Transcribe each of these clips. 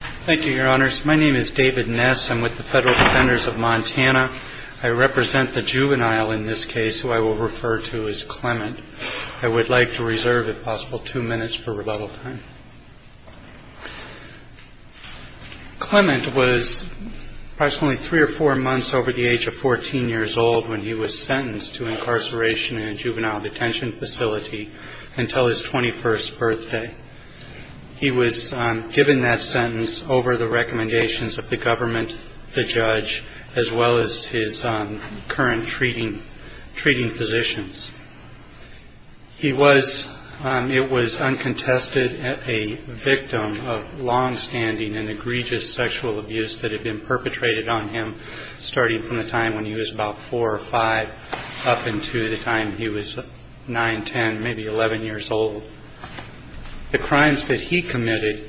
Thank you, your honors. My name is David Ness. I'm with the Federal Defenders of Montana. I represent the juvenile in this case, who I will refer to as Clement. I would like to reserve, if possible, two minutes for rebuttal time. Clement was approximately three or four months over the age of 14 years old when he was sentenced to incarceration in a juvenile detention facility until his 21st birthday. He was given that sentence over the recommendations of the government, the judge, as well as his current treating physicians. He was, it was uncontested, a victim of longstanding and egregious sexual abuse that had been perpetrated on him starting from the time when he was about four or five up until the time he was nine, ten, maybe eleven years old. The crimes that he committed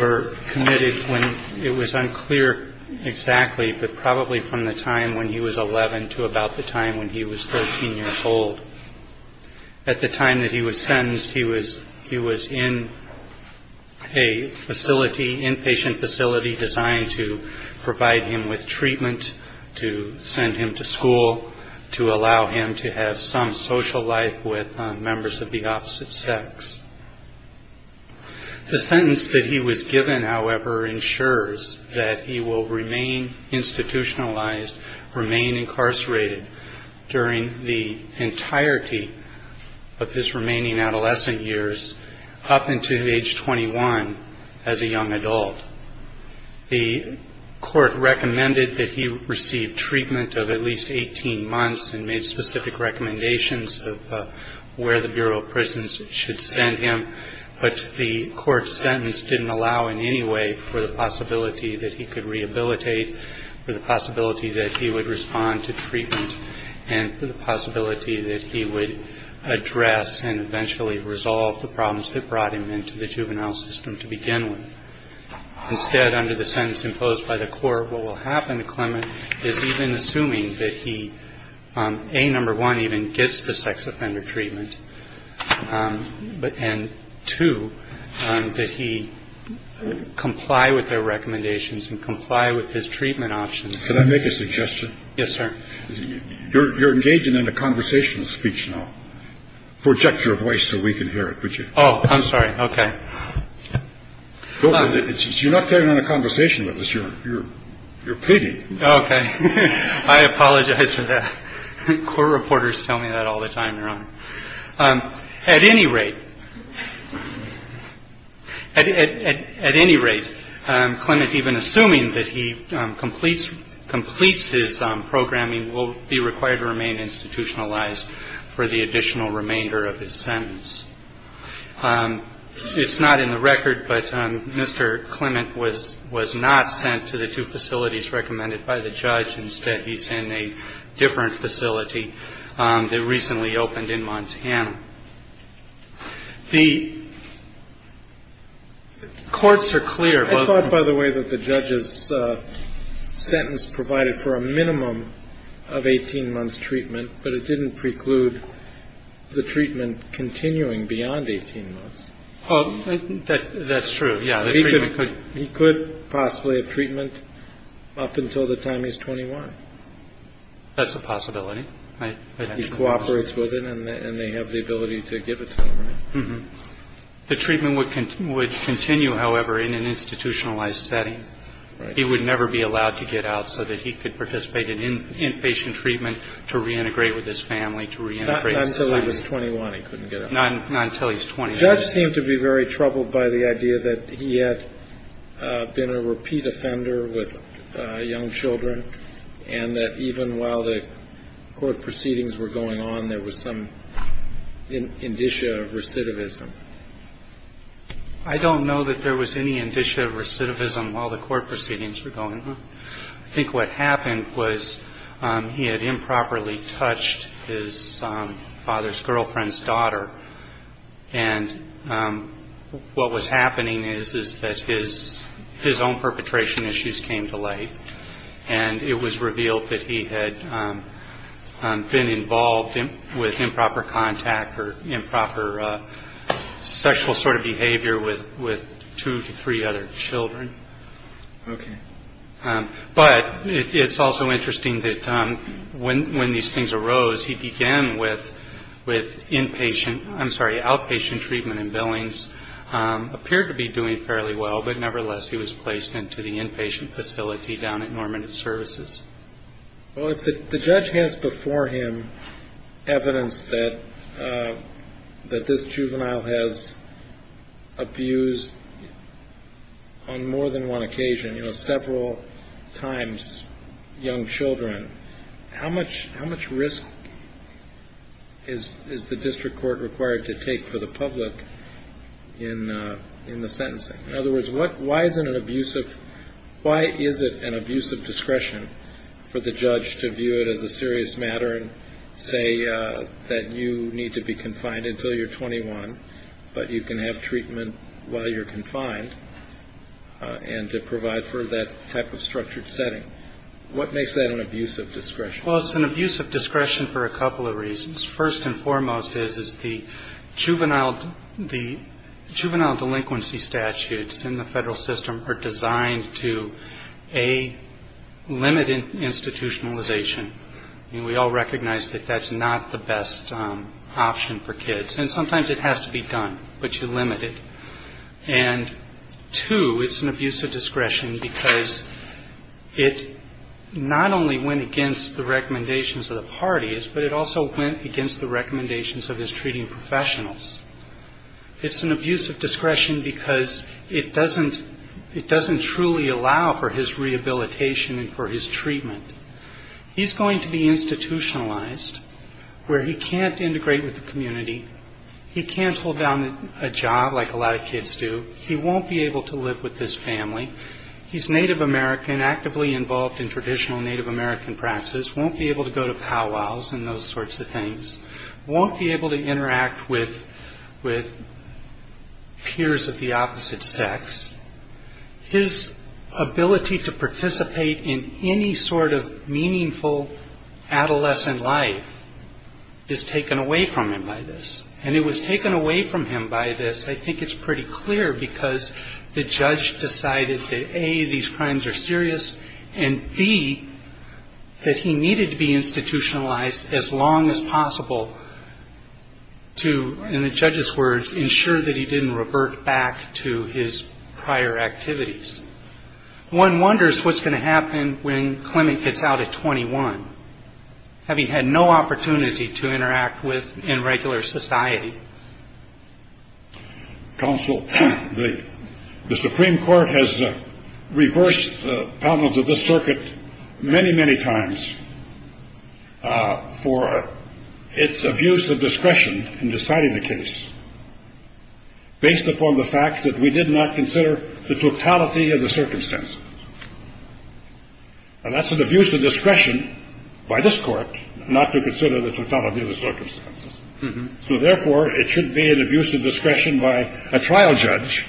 were committed when it was unclear exactly, but probably from the time when he was 11 to about the time when he was 13 years old. At the time that he was sentenced, he was in a facility, inpatient facility designed to provide him with treatment, to send him to school, to allow him to have some social life with members of the opposite sex. The sentence that he was given, however, ensures that he will remain institutionalized, remain incarcerated during the entirety of his remaining adolescent years up until age 21 as a young adult. The court recommended that he receive treatment of at least 18 months and made specific recommendations of where the Bureau of Prisons should send him, but the court sentence didn't allow in any way for the possibility that he could rehabilitate, for the possibility that he would respond to treatment, and for the possibility that he would address and eventually resolve the problems that brought him into the juvenile system to begin with. Instead, under the sentence imposed by the court, what will happen to Clement is even assuming that he, A, number one, even gets the sex offender treatment, and two, that he comply with their recommendations and comply with his treatment options. Can I make a suggestion? Yes, sir. You're engaging in a conversational speech now. Project your voice so we can hear it. Oh, I'm sorry. OK. It's you're not carrying on a conversation with us. You're you're you're pity. OK. I apologize for that. Court reporters tell me that all the time. At any rate, at any rate, Clement, even assuming that he completes completes his programming, will be required to remain institutionalized for the additional remainder of his sentence. It's not in the record, but Mr. Clement was was not sent to the two facilities recommended by the judge. Instead, he's in a different facility that recently opened in Montana. The courts are clear, by the way, that the judge's sentence provided for a minimum of 18 months treatment, but it didn't preclude the treatment continuing beyond 18 months. Oh, that's true. Yeah. He could possibly have treatment up until the time he's 21. That's a possibility. He cooperates with it and they have the ability to give it to him. The treatment would would continue, however, in an institutionalized setting. He would never be allowed to get out so that he could participate in inpatient treatment to reintegrate with his family to reintegrate. Not until he was 21. He couldn't get it. Not until he's 20. Judge seemed to be very troubled by the idea that he had been a repeat offender with young children and that even while the court proceedings were going on, there was some indicia of recidivism. I don't know that there was any indicia of recidivism while the court proceedings were going on. I think what happened was he had improperly touched his father's girlfriend's daughter. And what was happening is, is that his his own perpetration issues came to light and it was revealed that he had been involved with improper contact or improper sexual sort of behavior with with two to three other children. OK. But it's also interesting that when when these things arose, he began with with inpatient. I'm sorry. Outpatient treatment and billings appear to be doing fairly well. But nevertheless, he was placed into the inpatient facility down at Norman Services. Well, if the judge has before him evidence that that this juvenile has abused on more than one occasion, you know, several times young children. How much how much risk is is the district court required to take for the public in in the sentencing? In other words, what why is it an abuse of why is it an abuse of discretion for the judge to view it as a serious matter and say that you need to be confined until you're 21? But you can have treatment while you're confined and to provide for that type of structured setting. What makes that an abuse of discretion? Well, it's an abuse of discretion for a couple of reasons. First and foremost, is the juvenile, the juvenile delinquency statutes in the federal system are designed to a limited institutionalization. We all recognize that that's not the best option for kids. And sometimes it has to be done, but you limit it. And two, it's an abuse of discretion because it not only went against the recommendations of the parties, but it also went against the recommendations of his treating professionals. It's an abuse of discretion because it doesn't it doesn't truly allow for his rehabilitation and for his treatment. He's going to be institutionalized where he can't integrate with the community. He can't hold down a job like a lot of kids do. He won't be able to live with this family. He's Native American, actively involved in traditional Native American practices. Won't be able to go to powwows and those sorts of things. Won't be able to interact with peers of the opposite sex. His ability to participate in any sort of meaningful adolescent life is taken away from him by this. And it was taken away from him by this. I think it's pretty clear because the judge decided that A, these crimes are serious, and B, that he needed to be institutionalized as long as possible to, in the judge's words, ensure that he didn't revert back to his prior activities. One wonders what's going to happen when Clement gets out at 21, having had no opportunity to interact with in regular society. Counsel, the Supreme Court has reversed the problems of this circuit many, many times for its abuse of discretion in deciding the case. Based upon the facts that we did not consider the totality of the circumstances. And that's an abuse of discretion by this court not to consider the totality of the circumstances. So therefore, it should be an abuse of discretion by a trial judge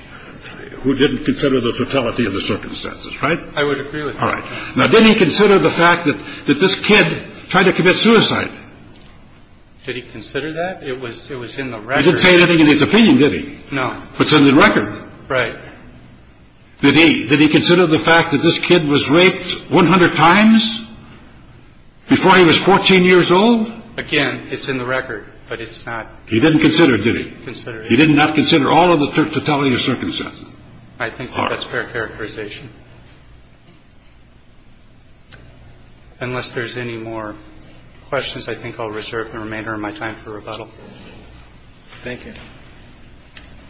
who didn't consider the totality of the circumstances. Right. I would agree with. All right. Now, did he consider the fact that this kid tried to commit suicide? Did he consider that it was it was in the record? He didn't say anything in his opinion, did he? No. What's in the record? Right. Did he did he consider the fact that this kid was raped 100 times before he was 14 years old? Again, it's in the record, but it's not. He didn't consider. Did he consider he did not consider all of the totality of circumstances? I think that's fair characterization. Unless there's any more questions, I think I'll reserve the remainder of my time for rebuttal. Thank you.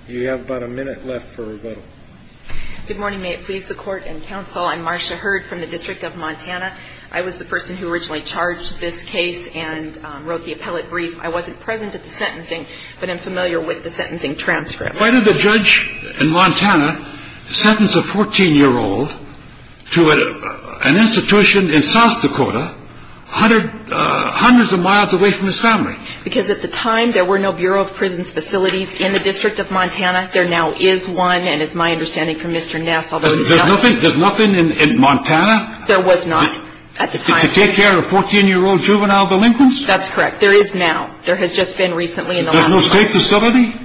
You have about a minute left for rebuttal. Good morning. May it please the Court and counsel. I'm Marcia Hurd from the District of Montana. I was the person who originally charged this case and wrote the appellate brief. I wasn't present at the sentencing, but I'm familiar with the sentencing transcript. Why did the judge in Montana sentence a 14 year old to an institution in South Dakota, hundreds of miles away from his family? Because at the time there were no Bureau of Prisons facilities in the District of Montana. There now is one. And it's my understanding from Mr. Nassau. There's nothing in Montana? There was not at the time. To take care of 14 year old juvenile delinquents? That's correct. There is now. There has just been recently in the last place. There's no state facility?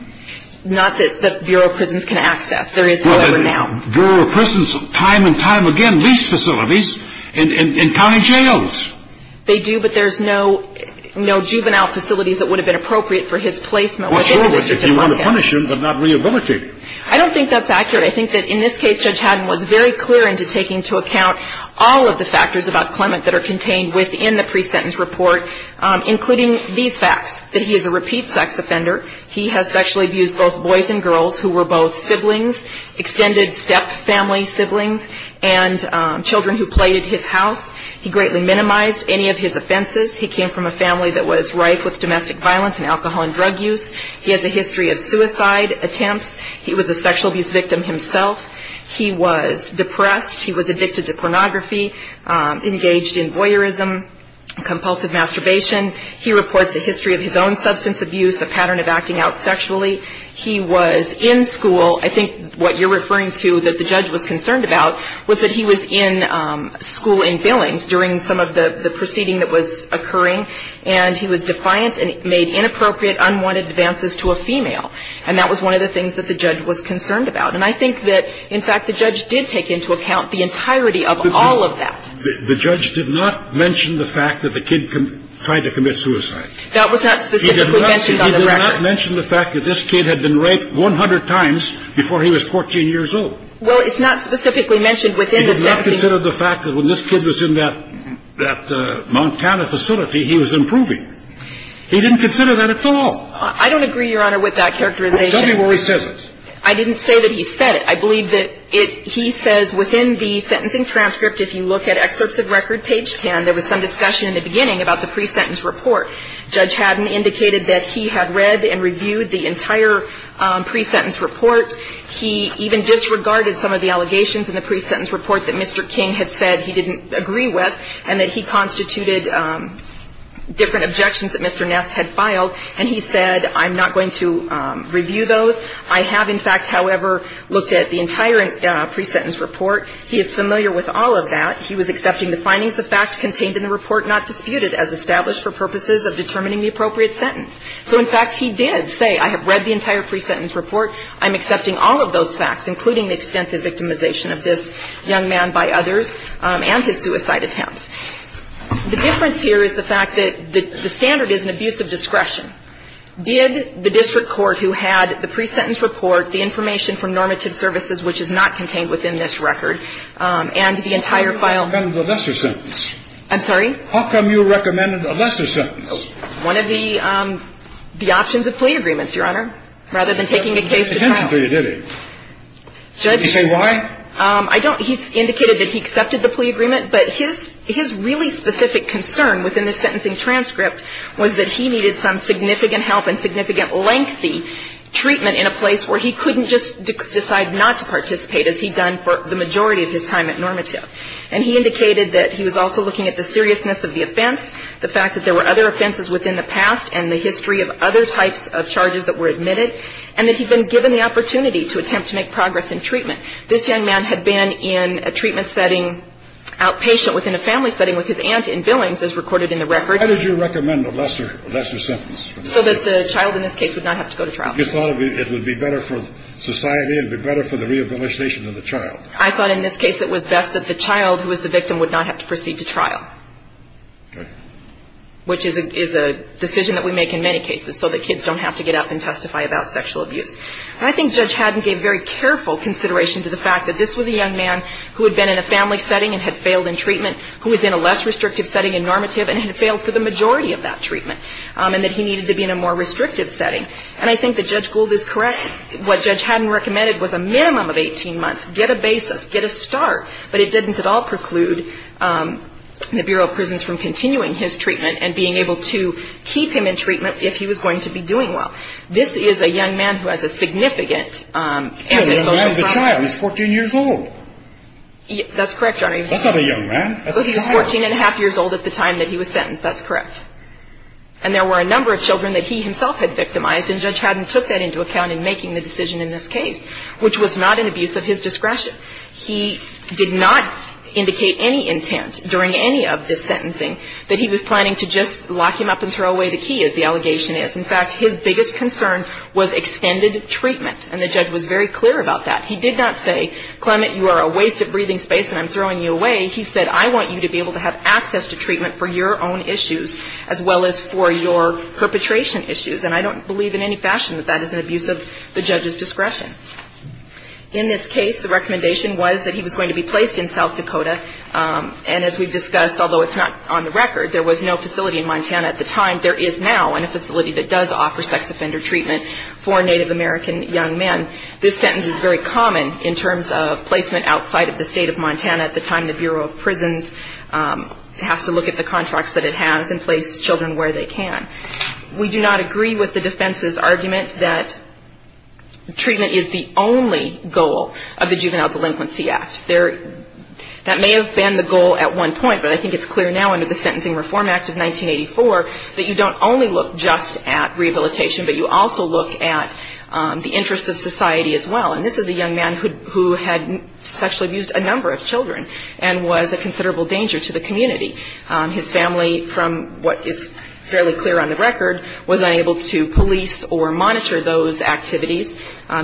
Not that the Bureau of Prisons can access. There is, however, now. Bureau of Prisons time and time again leased facilities in county jails. They do, but there's no juvenile facilities that would have been appropriate for his placement within the District of Montana. What's wrong with it? You want to punish him, but not rehabilitate him. I don't think that's accurate. I think that in this case, Judge Haddon was very clear into taking into account all of the factors about Clement that are contained within the pre-sentence report, including these facts. That he is a repeat sex offender. He has sexually abused both boys and girls who were both siblings. Extended step family siblings and children who played at his house. He greatly minimized any of his offenses. He came from a family that was rife with domestic violence and alcohol and drug use. He has a history of suicide attempts. He was a sexual abuse victim himself. He was depressed. He was addicted to pornography, engaged in voyeurism, compulsive masturbation. He reports a history of his own substance abuse, a pattern of acting out sexually. He was in school. I think what you're referring to that the judge was concerned about was that he was in school in Billings during some of the proceeding that was occurring, and he was defiant and made inappropriate, unwanted advances to a female. And that was one of the things that the judge was concerned about. And I think that, in fact, the judge did take into account the entirety of all of that. The judge did not mention the fact that the kid tried to commit suicide. That was not specifically mentioned on the record. He did not mention the fact that this kid had been raped 100 times before he was 14 years old. Well, it's not specifically mentioned within the sentencing. He did not consider the fact that when this kid was in that Montana facility, he was improving. He didn't consider that at all. I don't agree, Your Honor, with that characterization. Tell me where he says it. I didn't say that he said it. I believe that it he says within the sentencing transcript, if you look at excerpts of record page 10, there was some discussion in the beginning about the pre-sentence report. Judge Haddon indicated that he had read and reviewed the entire pre-sentence report. He even disregarded some of the allegations in the pre-sentence report that Mr. King had said he didn't agree with and that he constituted different objections that Mr. Ness had filed, and he said, I'm not going to review those. I have, in fact, however, looked at the entire pre-sentence report. He is familiar with all of that. He was accepting the findings of fact contained in the report not disputed as established for purposes of determining the appropriate sentence. So, in fact, he did say, I have read the entire pre-sentence report. I'm accepting all of those facts, including the extensive victimization of this young man by others and his suicide attempts. The difference here is the fact that the standard is an abuse of discretion. Did the district court who had the pre-sentence report, the information from normative services, which is not contained within this record, and the entire file of the lesser sentence. I'm sorry? How come you recommended a lesser sentence? One of the options of plea agreements, Your Honor, rather than taking a case to trial. He said why? He indicated that he accepted the plea agreement. But his really specific concern within this sentencing transcript was that he needed some significant help and significant lengthy treatment in a place where he couldn't just decide not to participate, as he'd done for the majority of his time at normative. And he indicated that he was also looking at the seriousness of the offense, the fact that there were other offenses within the past and the history of other types of charges that were admitted, and that he'd been given the opportunity to attempt to make progress in treatment. This young man had been in a treatment setting, outpatient within a family setting with his aunt in Billings, as recorded in the record. How did you recommend a lesser sentence? So that the child in this case would not have to go to trial. You thought it would be better for society, it would be better for the rehabilitation of the child. I thought in this case it was best that the child who was the victim would not have to proceed to trial. Okay. Which is a decision that we make in many cases so that kids don't have to get up and testify about sexual abuse. And I think Judge Haddon gave very careful consideration to the fact that this was a young man who had been in a family setting and had failed in treatment, who was in a less restrictive setting in normative and had failed for the majority of that treatment, and that he needed to be in a more restrictive setting. And I think that Judge Gould is correct. What Judge Haddon recommended was a minimum of 18 months. Get a basis. Get a start. But it didn't at all preclude the Bureau of Prisons from continuing his treatment and being able to keep him in treatment if he was going to be doing well. This is a young man who has a significant antisocial problem. He's a young man with a child. He's 14 years old. That's correct, Your Honor. That's not a young man. That's a child. He was 14 and a half years old at the time that he was sentenced. That's correct. And there were a number of children that he himself had victimized, and Judge Haddon took that into account in making the decision in this case, which was not an abuse of his discretion. He did not indicate any intent during any of this sentencing that he was planning to just lock him up and throw away the key, as the allegation is. In fact, his biggest concern was extended treatment, and the judge was very clear about that. He did not say, Clement, you are a waste of breathing space and I'm throwing you away. He said, I want you to be able to have access to treatment for your own issues as well as for your perpetration issues. And I don't believe in any fashion that that is an abuse of the judge's discretion. In this case, the recommendation was that he was going to be placed in South Dakota. And as we've discussed, although it's not on the record, there was no facility in Montana at the time. There is now in a facility that does offer sex offender treatment for Native American young men. This sentence is very common in terms of placement outside of the state of Montana. At the time, the Bureau of Prisons has to look at the contracts that it has and place children where they can. We do not agree with the defense's argument that treatment is the only goal of the Juvenile Delinquency Act. That may have been the goal at one point, but I think it's clear now under the Sentencing Reform Act of 1984 that you don't only look just at rehabilitation, but you also look at the interests of society as well. And this is a young man who had sexually abused a number of children and was a considerable danger to the community. His family, from what is fairly clear on the record, was unable to police or monitor those activities.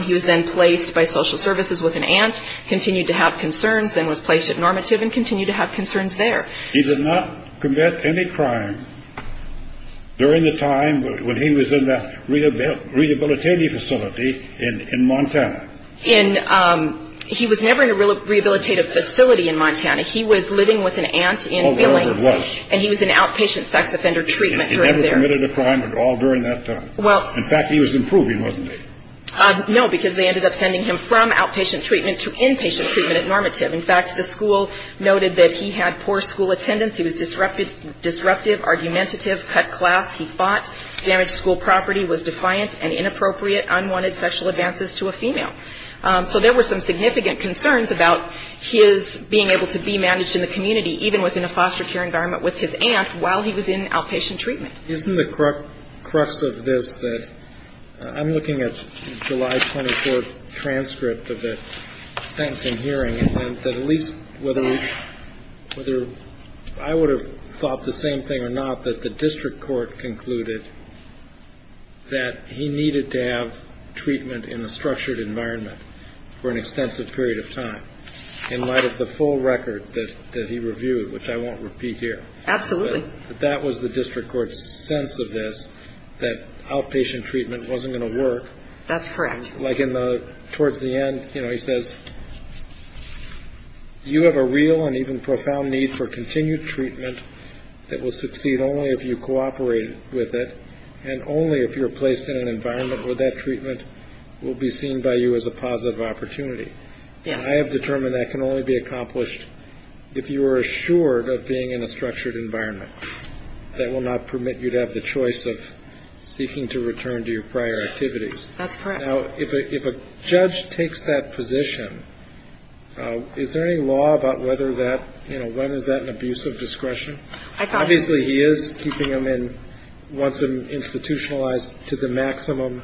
He was then placed by social services with an aunt, continued to have concerns, then was placed at normative and continued to have concerns there. He did not commit any crime during the time when he was in that rehabilitative facility in Montana? He was never in a rehabilitative facility in Montana. He was living with an aunt in Billings. Oh, there he was. And he was in outpatient sex offender treatment. He never committed a crime at all during that time? In fact, he was improving, wasn't he? No, because they ended up sending him from outpatient treatment to inpatient treatment at normative. In fact, the school noted that he had poor school attendance. He was disruptive, argumentative, cut class. He fought, damaged school property, was defiant and inappropriate, unwanted sexual advances to a female. So there were some significant concerns about his being able to be managed in the community, even within a foster care environment with his aunt, while he was in outpatient treatment. Isn't the crux of this that I'm looking at July 24 transcript of the sentencing hearing and that at least whether I would have thought the same thing or not, that the district court concluded that he needed to have treatment in a structured environment for an extensive period of time in light of the full record that he reviewed, which I won't repeat here. Absolutely. But that was the district court's sense of this, that outpatient treatment wasn't going to work. That's correct. Like towards the end, you know, he says, you have a real and even profound need for continued treatment that will succeed only if you cooperate with it and only if you're placed in an environment where that treatment will be seen by you as a positive opportunity. Yes. And I have determined that can only be accomplished if you are assured of being in a structured environment that will not permit you to have the choice of seeking to return to your prior activities. That's correct. Now, if a judge takes that position, is there any law about whether that, you know, when is that an abuse of discretion? I thought. Obviously, he is keeping him in, wants him institutionalized to the maximum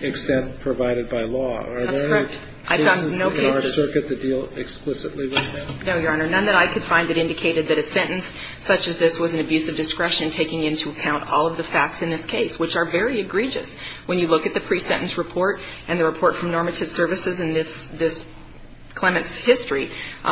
extent provided by law. That's correct. I found no cases in our circuit that deal explicitly with that. No, Your Honor. None that I could find that indicated that a sentence such as this was an abuse of discretion taking into account all of the facts in this case, which are very egregious. When you look at the pre-sentence report and the report from normative services in this, this Clement's history,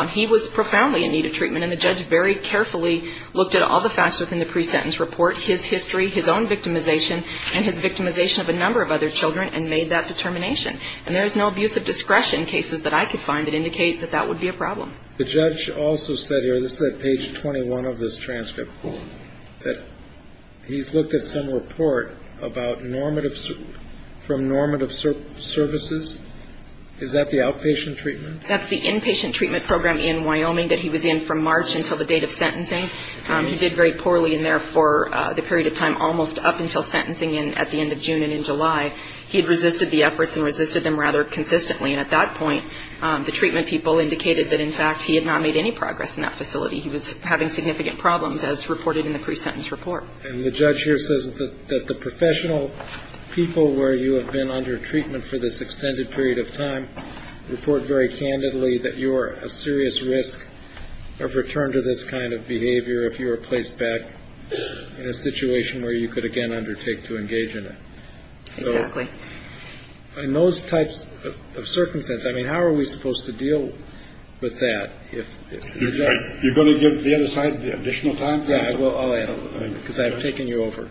he was profoundly in need of treatment. And the judge very carefully looked at all the facts within the pre-sentence report, his history, his own victimization and his victimization of a number of other children and made that determination. And there is no abuse of discretion cases that I could find that indicate that that would be a problem. The judge also said here, this is at page 21 of this transcript, that he's looked at some report about normative, from normative services. Is that the outpatient treatment? That's the inpatient treatment program in Wyoming that he was in from March until the date of sentencing. He did very poorly in there for the period of time almost up until sentencing at the end of June and in July. He had resisted the efforts and resisted them rather consistently. And at that point, the treatment people indicated that, in fact, he had not made any progress in that facility. He was having significant problems as reported in the pre-sentence report. And the judge here says that the professional people where you have been under treatment for this extended period of time report very candidly that you are a serious risk of return to this kind of behavior if you were placed back in a situation where you could, again, undertake to engage in it. Exactly. In those types of circumstances, I mean, how are we supposed to deal with that? You're going to give the other side additional time? Yeah, I will. I'll add, because I've taken you over.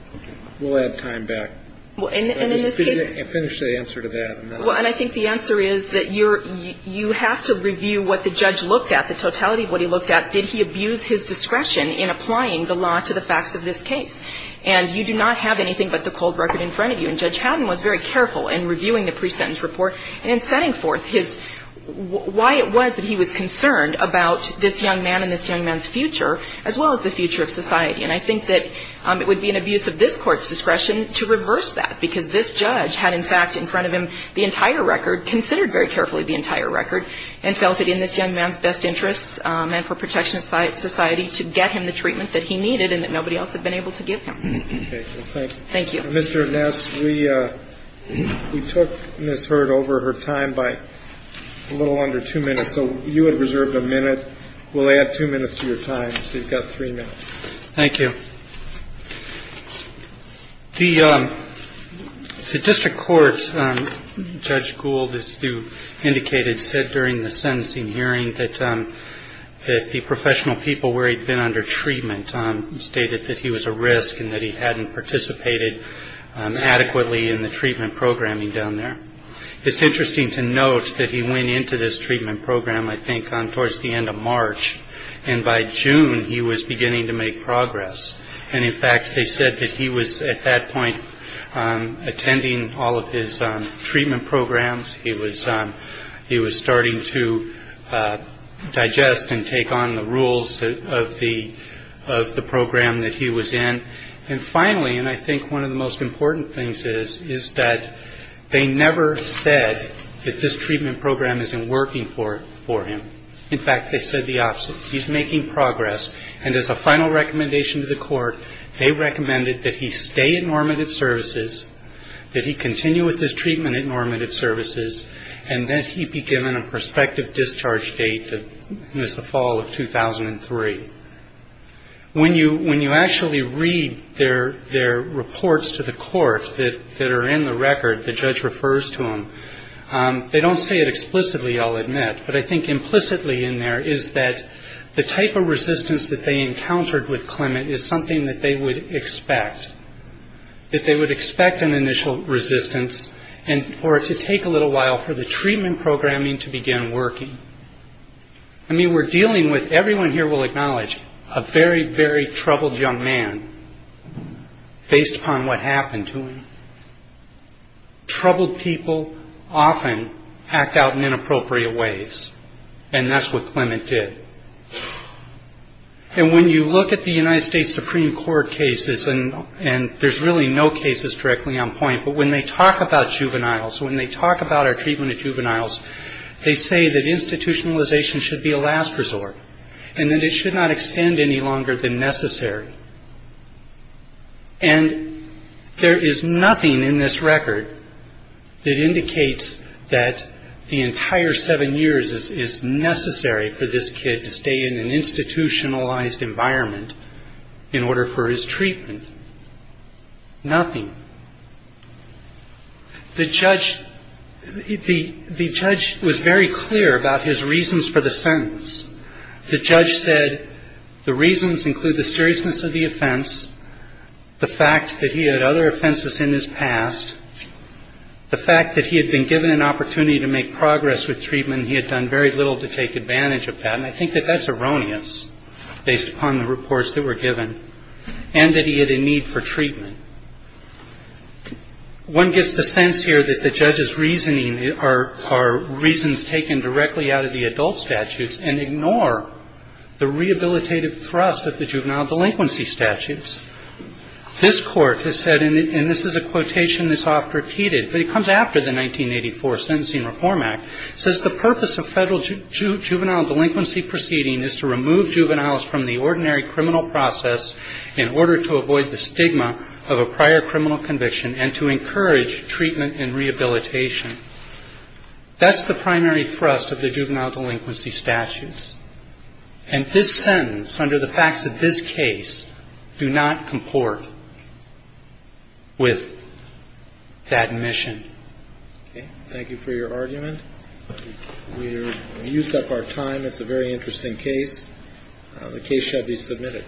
We'll add time back. Well, and in this case. Finish the answer to that. Well, and I think the answer is that you have to review what the judge looked at, the totality of what he looked at. Did he abuse his discretion in applying the law to the facts of this case? And you do not have anything but the cold record in front of you. And Judge Haddon was very careful in reviewing the pre-sentence report and in setting forth his why it was that he was concerned about this young man and this young man's future, as well as the future of society. And I think that it would be an abuse of this Court's discretion to reverse that, because this judge had, in fact, in front of him the entire record, considered very carefully the entire record, and felt it in this young man's best interests and for protection of society to get him the treatment that he needed and that nobody else had been able to give him. Okay. Well, thank you. Thank you. Mr. Ness, we took Ms. Hurd over her time by a little under two minutes. So you had reserved a minute. We'll add two minutes to your time. So you've got three minutes. Thank you. The district court, Judge Gould, as you indicated, said during the sentencing hearing that the professional people where he'd been under treatment stated that he was a risk and that he hadn't participated adequately in the treatment programming down there. It's interesting to note that he went into this treatment program, I think, towards the end of March, and by June he was beginning to make progress. And, in fact, they said that he was at that point attending all of his treatment programs. He was starting to digest and take on the rules of the program that he was in. And, finally, and I think one of the most important things is, is that they never said that this treatment program isn't working for him. In fact, they said the opposite. He's making progress. And as a final recommendation to the court, they recommended that he stay at normative services, that he continue with his treatment at normative services, and that he be given a prospective discharge date as the fall of 2003. When you actually read their reports to the court that are in the record, the judge refers to them, they don't say it explicitly, I'll admit, but I think implicitly in there is that the type of resistance that they encountered with Clement is something that they would expect, that they would expect an initial resistance, and for it to take a little while for the treatment programming to begin working. I mean, we're dealing with, everyone here will acknowledge, a very, very troubled young man based upon what happened to him. Troubled people often act out in inappropriate ways, and that's what Clement did. And when you look at the United States Supreme Court cases, and there's really no cases directly on point, but when they talk about juveniles, when they talk about our treatment of juveniles, they say that institutionalization should be a last resort, and that it should not extend any longer than necessary. And there is nothing in this record that indicates that the entire seven years is necessary for this kid to stay in an institutionalized environment in order for his treatment. Nothing. The judge was very clear about his reasons for the sentence. The judge said the reasons include the seriousness of the offense, the fact that he had other offenses in his past, the fact that he had been given an opportunity to make progress with treatment and he had done very little to take advantage of that, and I think that that's erroneous based upon the reports that were given, and that he had a need for treatment. One gets the sense here that the judge's reasoning are reasons taken directly out of the adult statutes and ignore the rehabilitative thrust of the juvenile delinquency statutes. This Court has said, and this is a quotation that's oft repeated, but it comes after the 1984 Sentencing Reform Act, says the purpose of federal juvenile delinquency proceedings is to remove juveniles from the ordinary criminal process in order to avoid the stigma of a prior criminal conviction and to encourage treatment and rehabilitation. That's the primary thrust of the juvenile delinquency statutes. And this sentence, under the facts of this case, do not comport with that mission. Thank you for your argument. We've used up our time. It's a very interesting case. The case shall be submitted.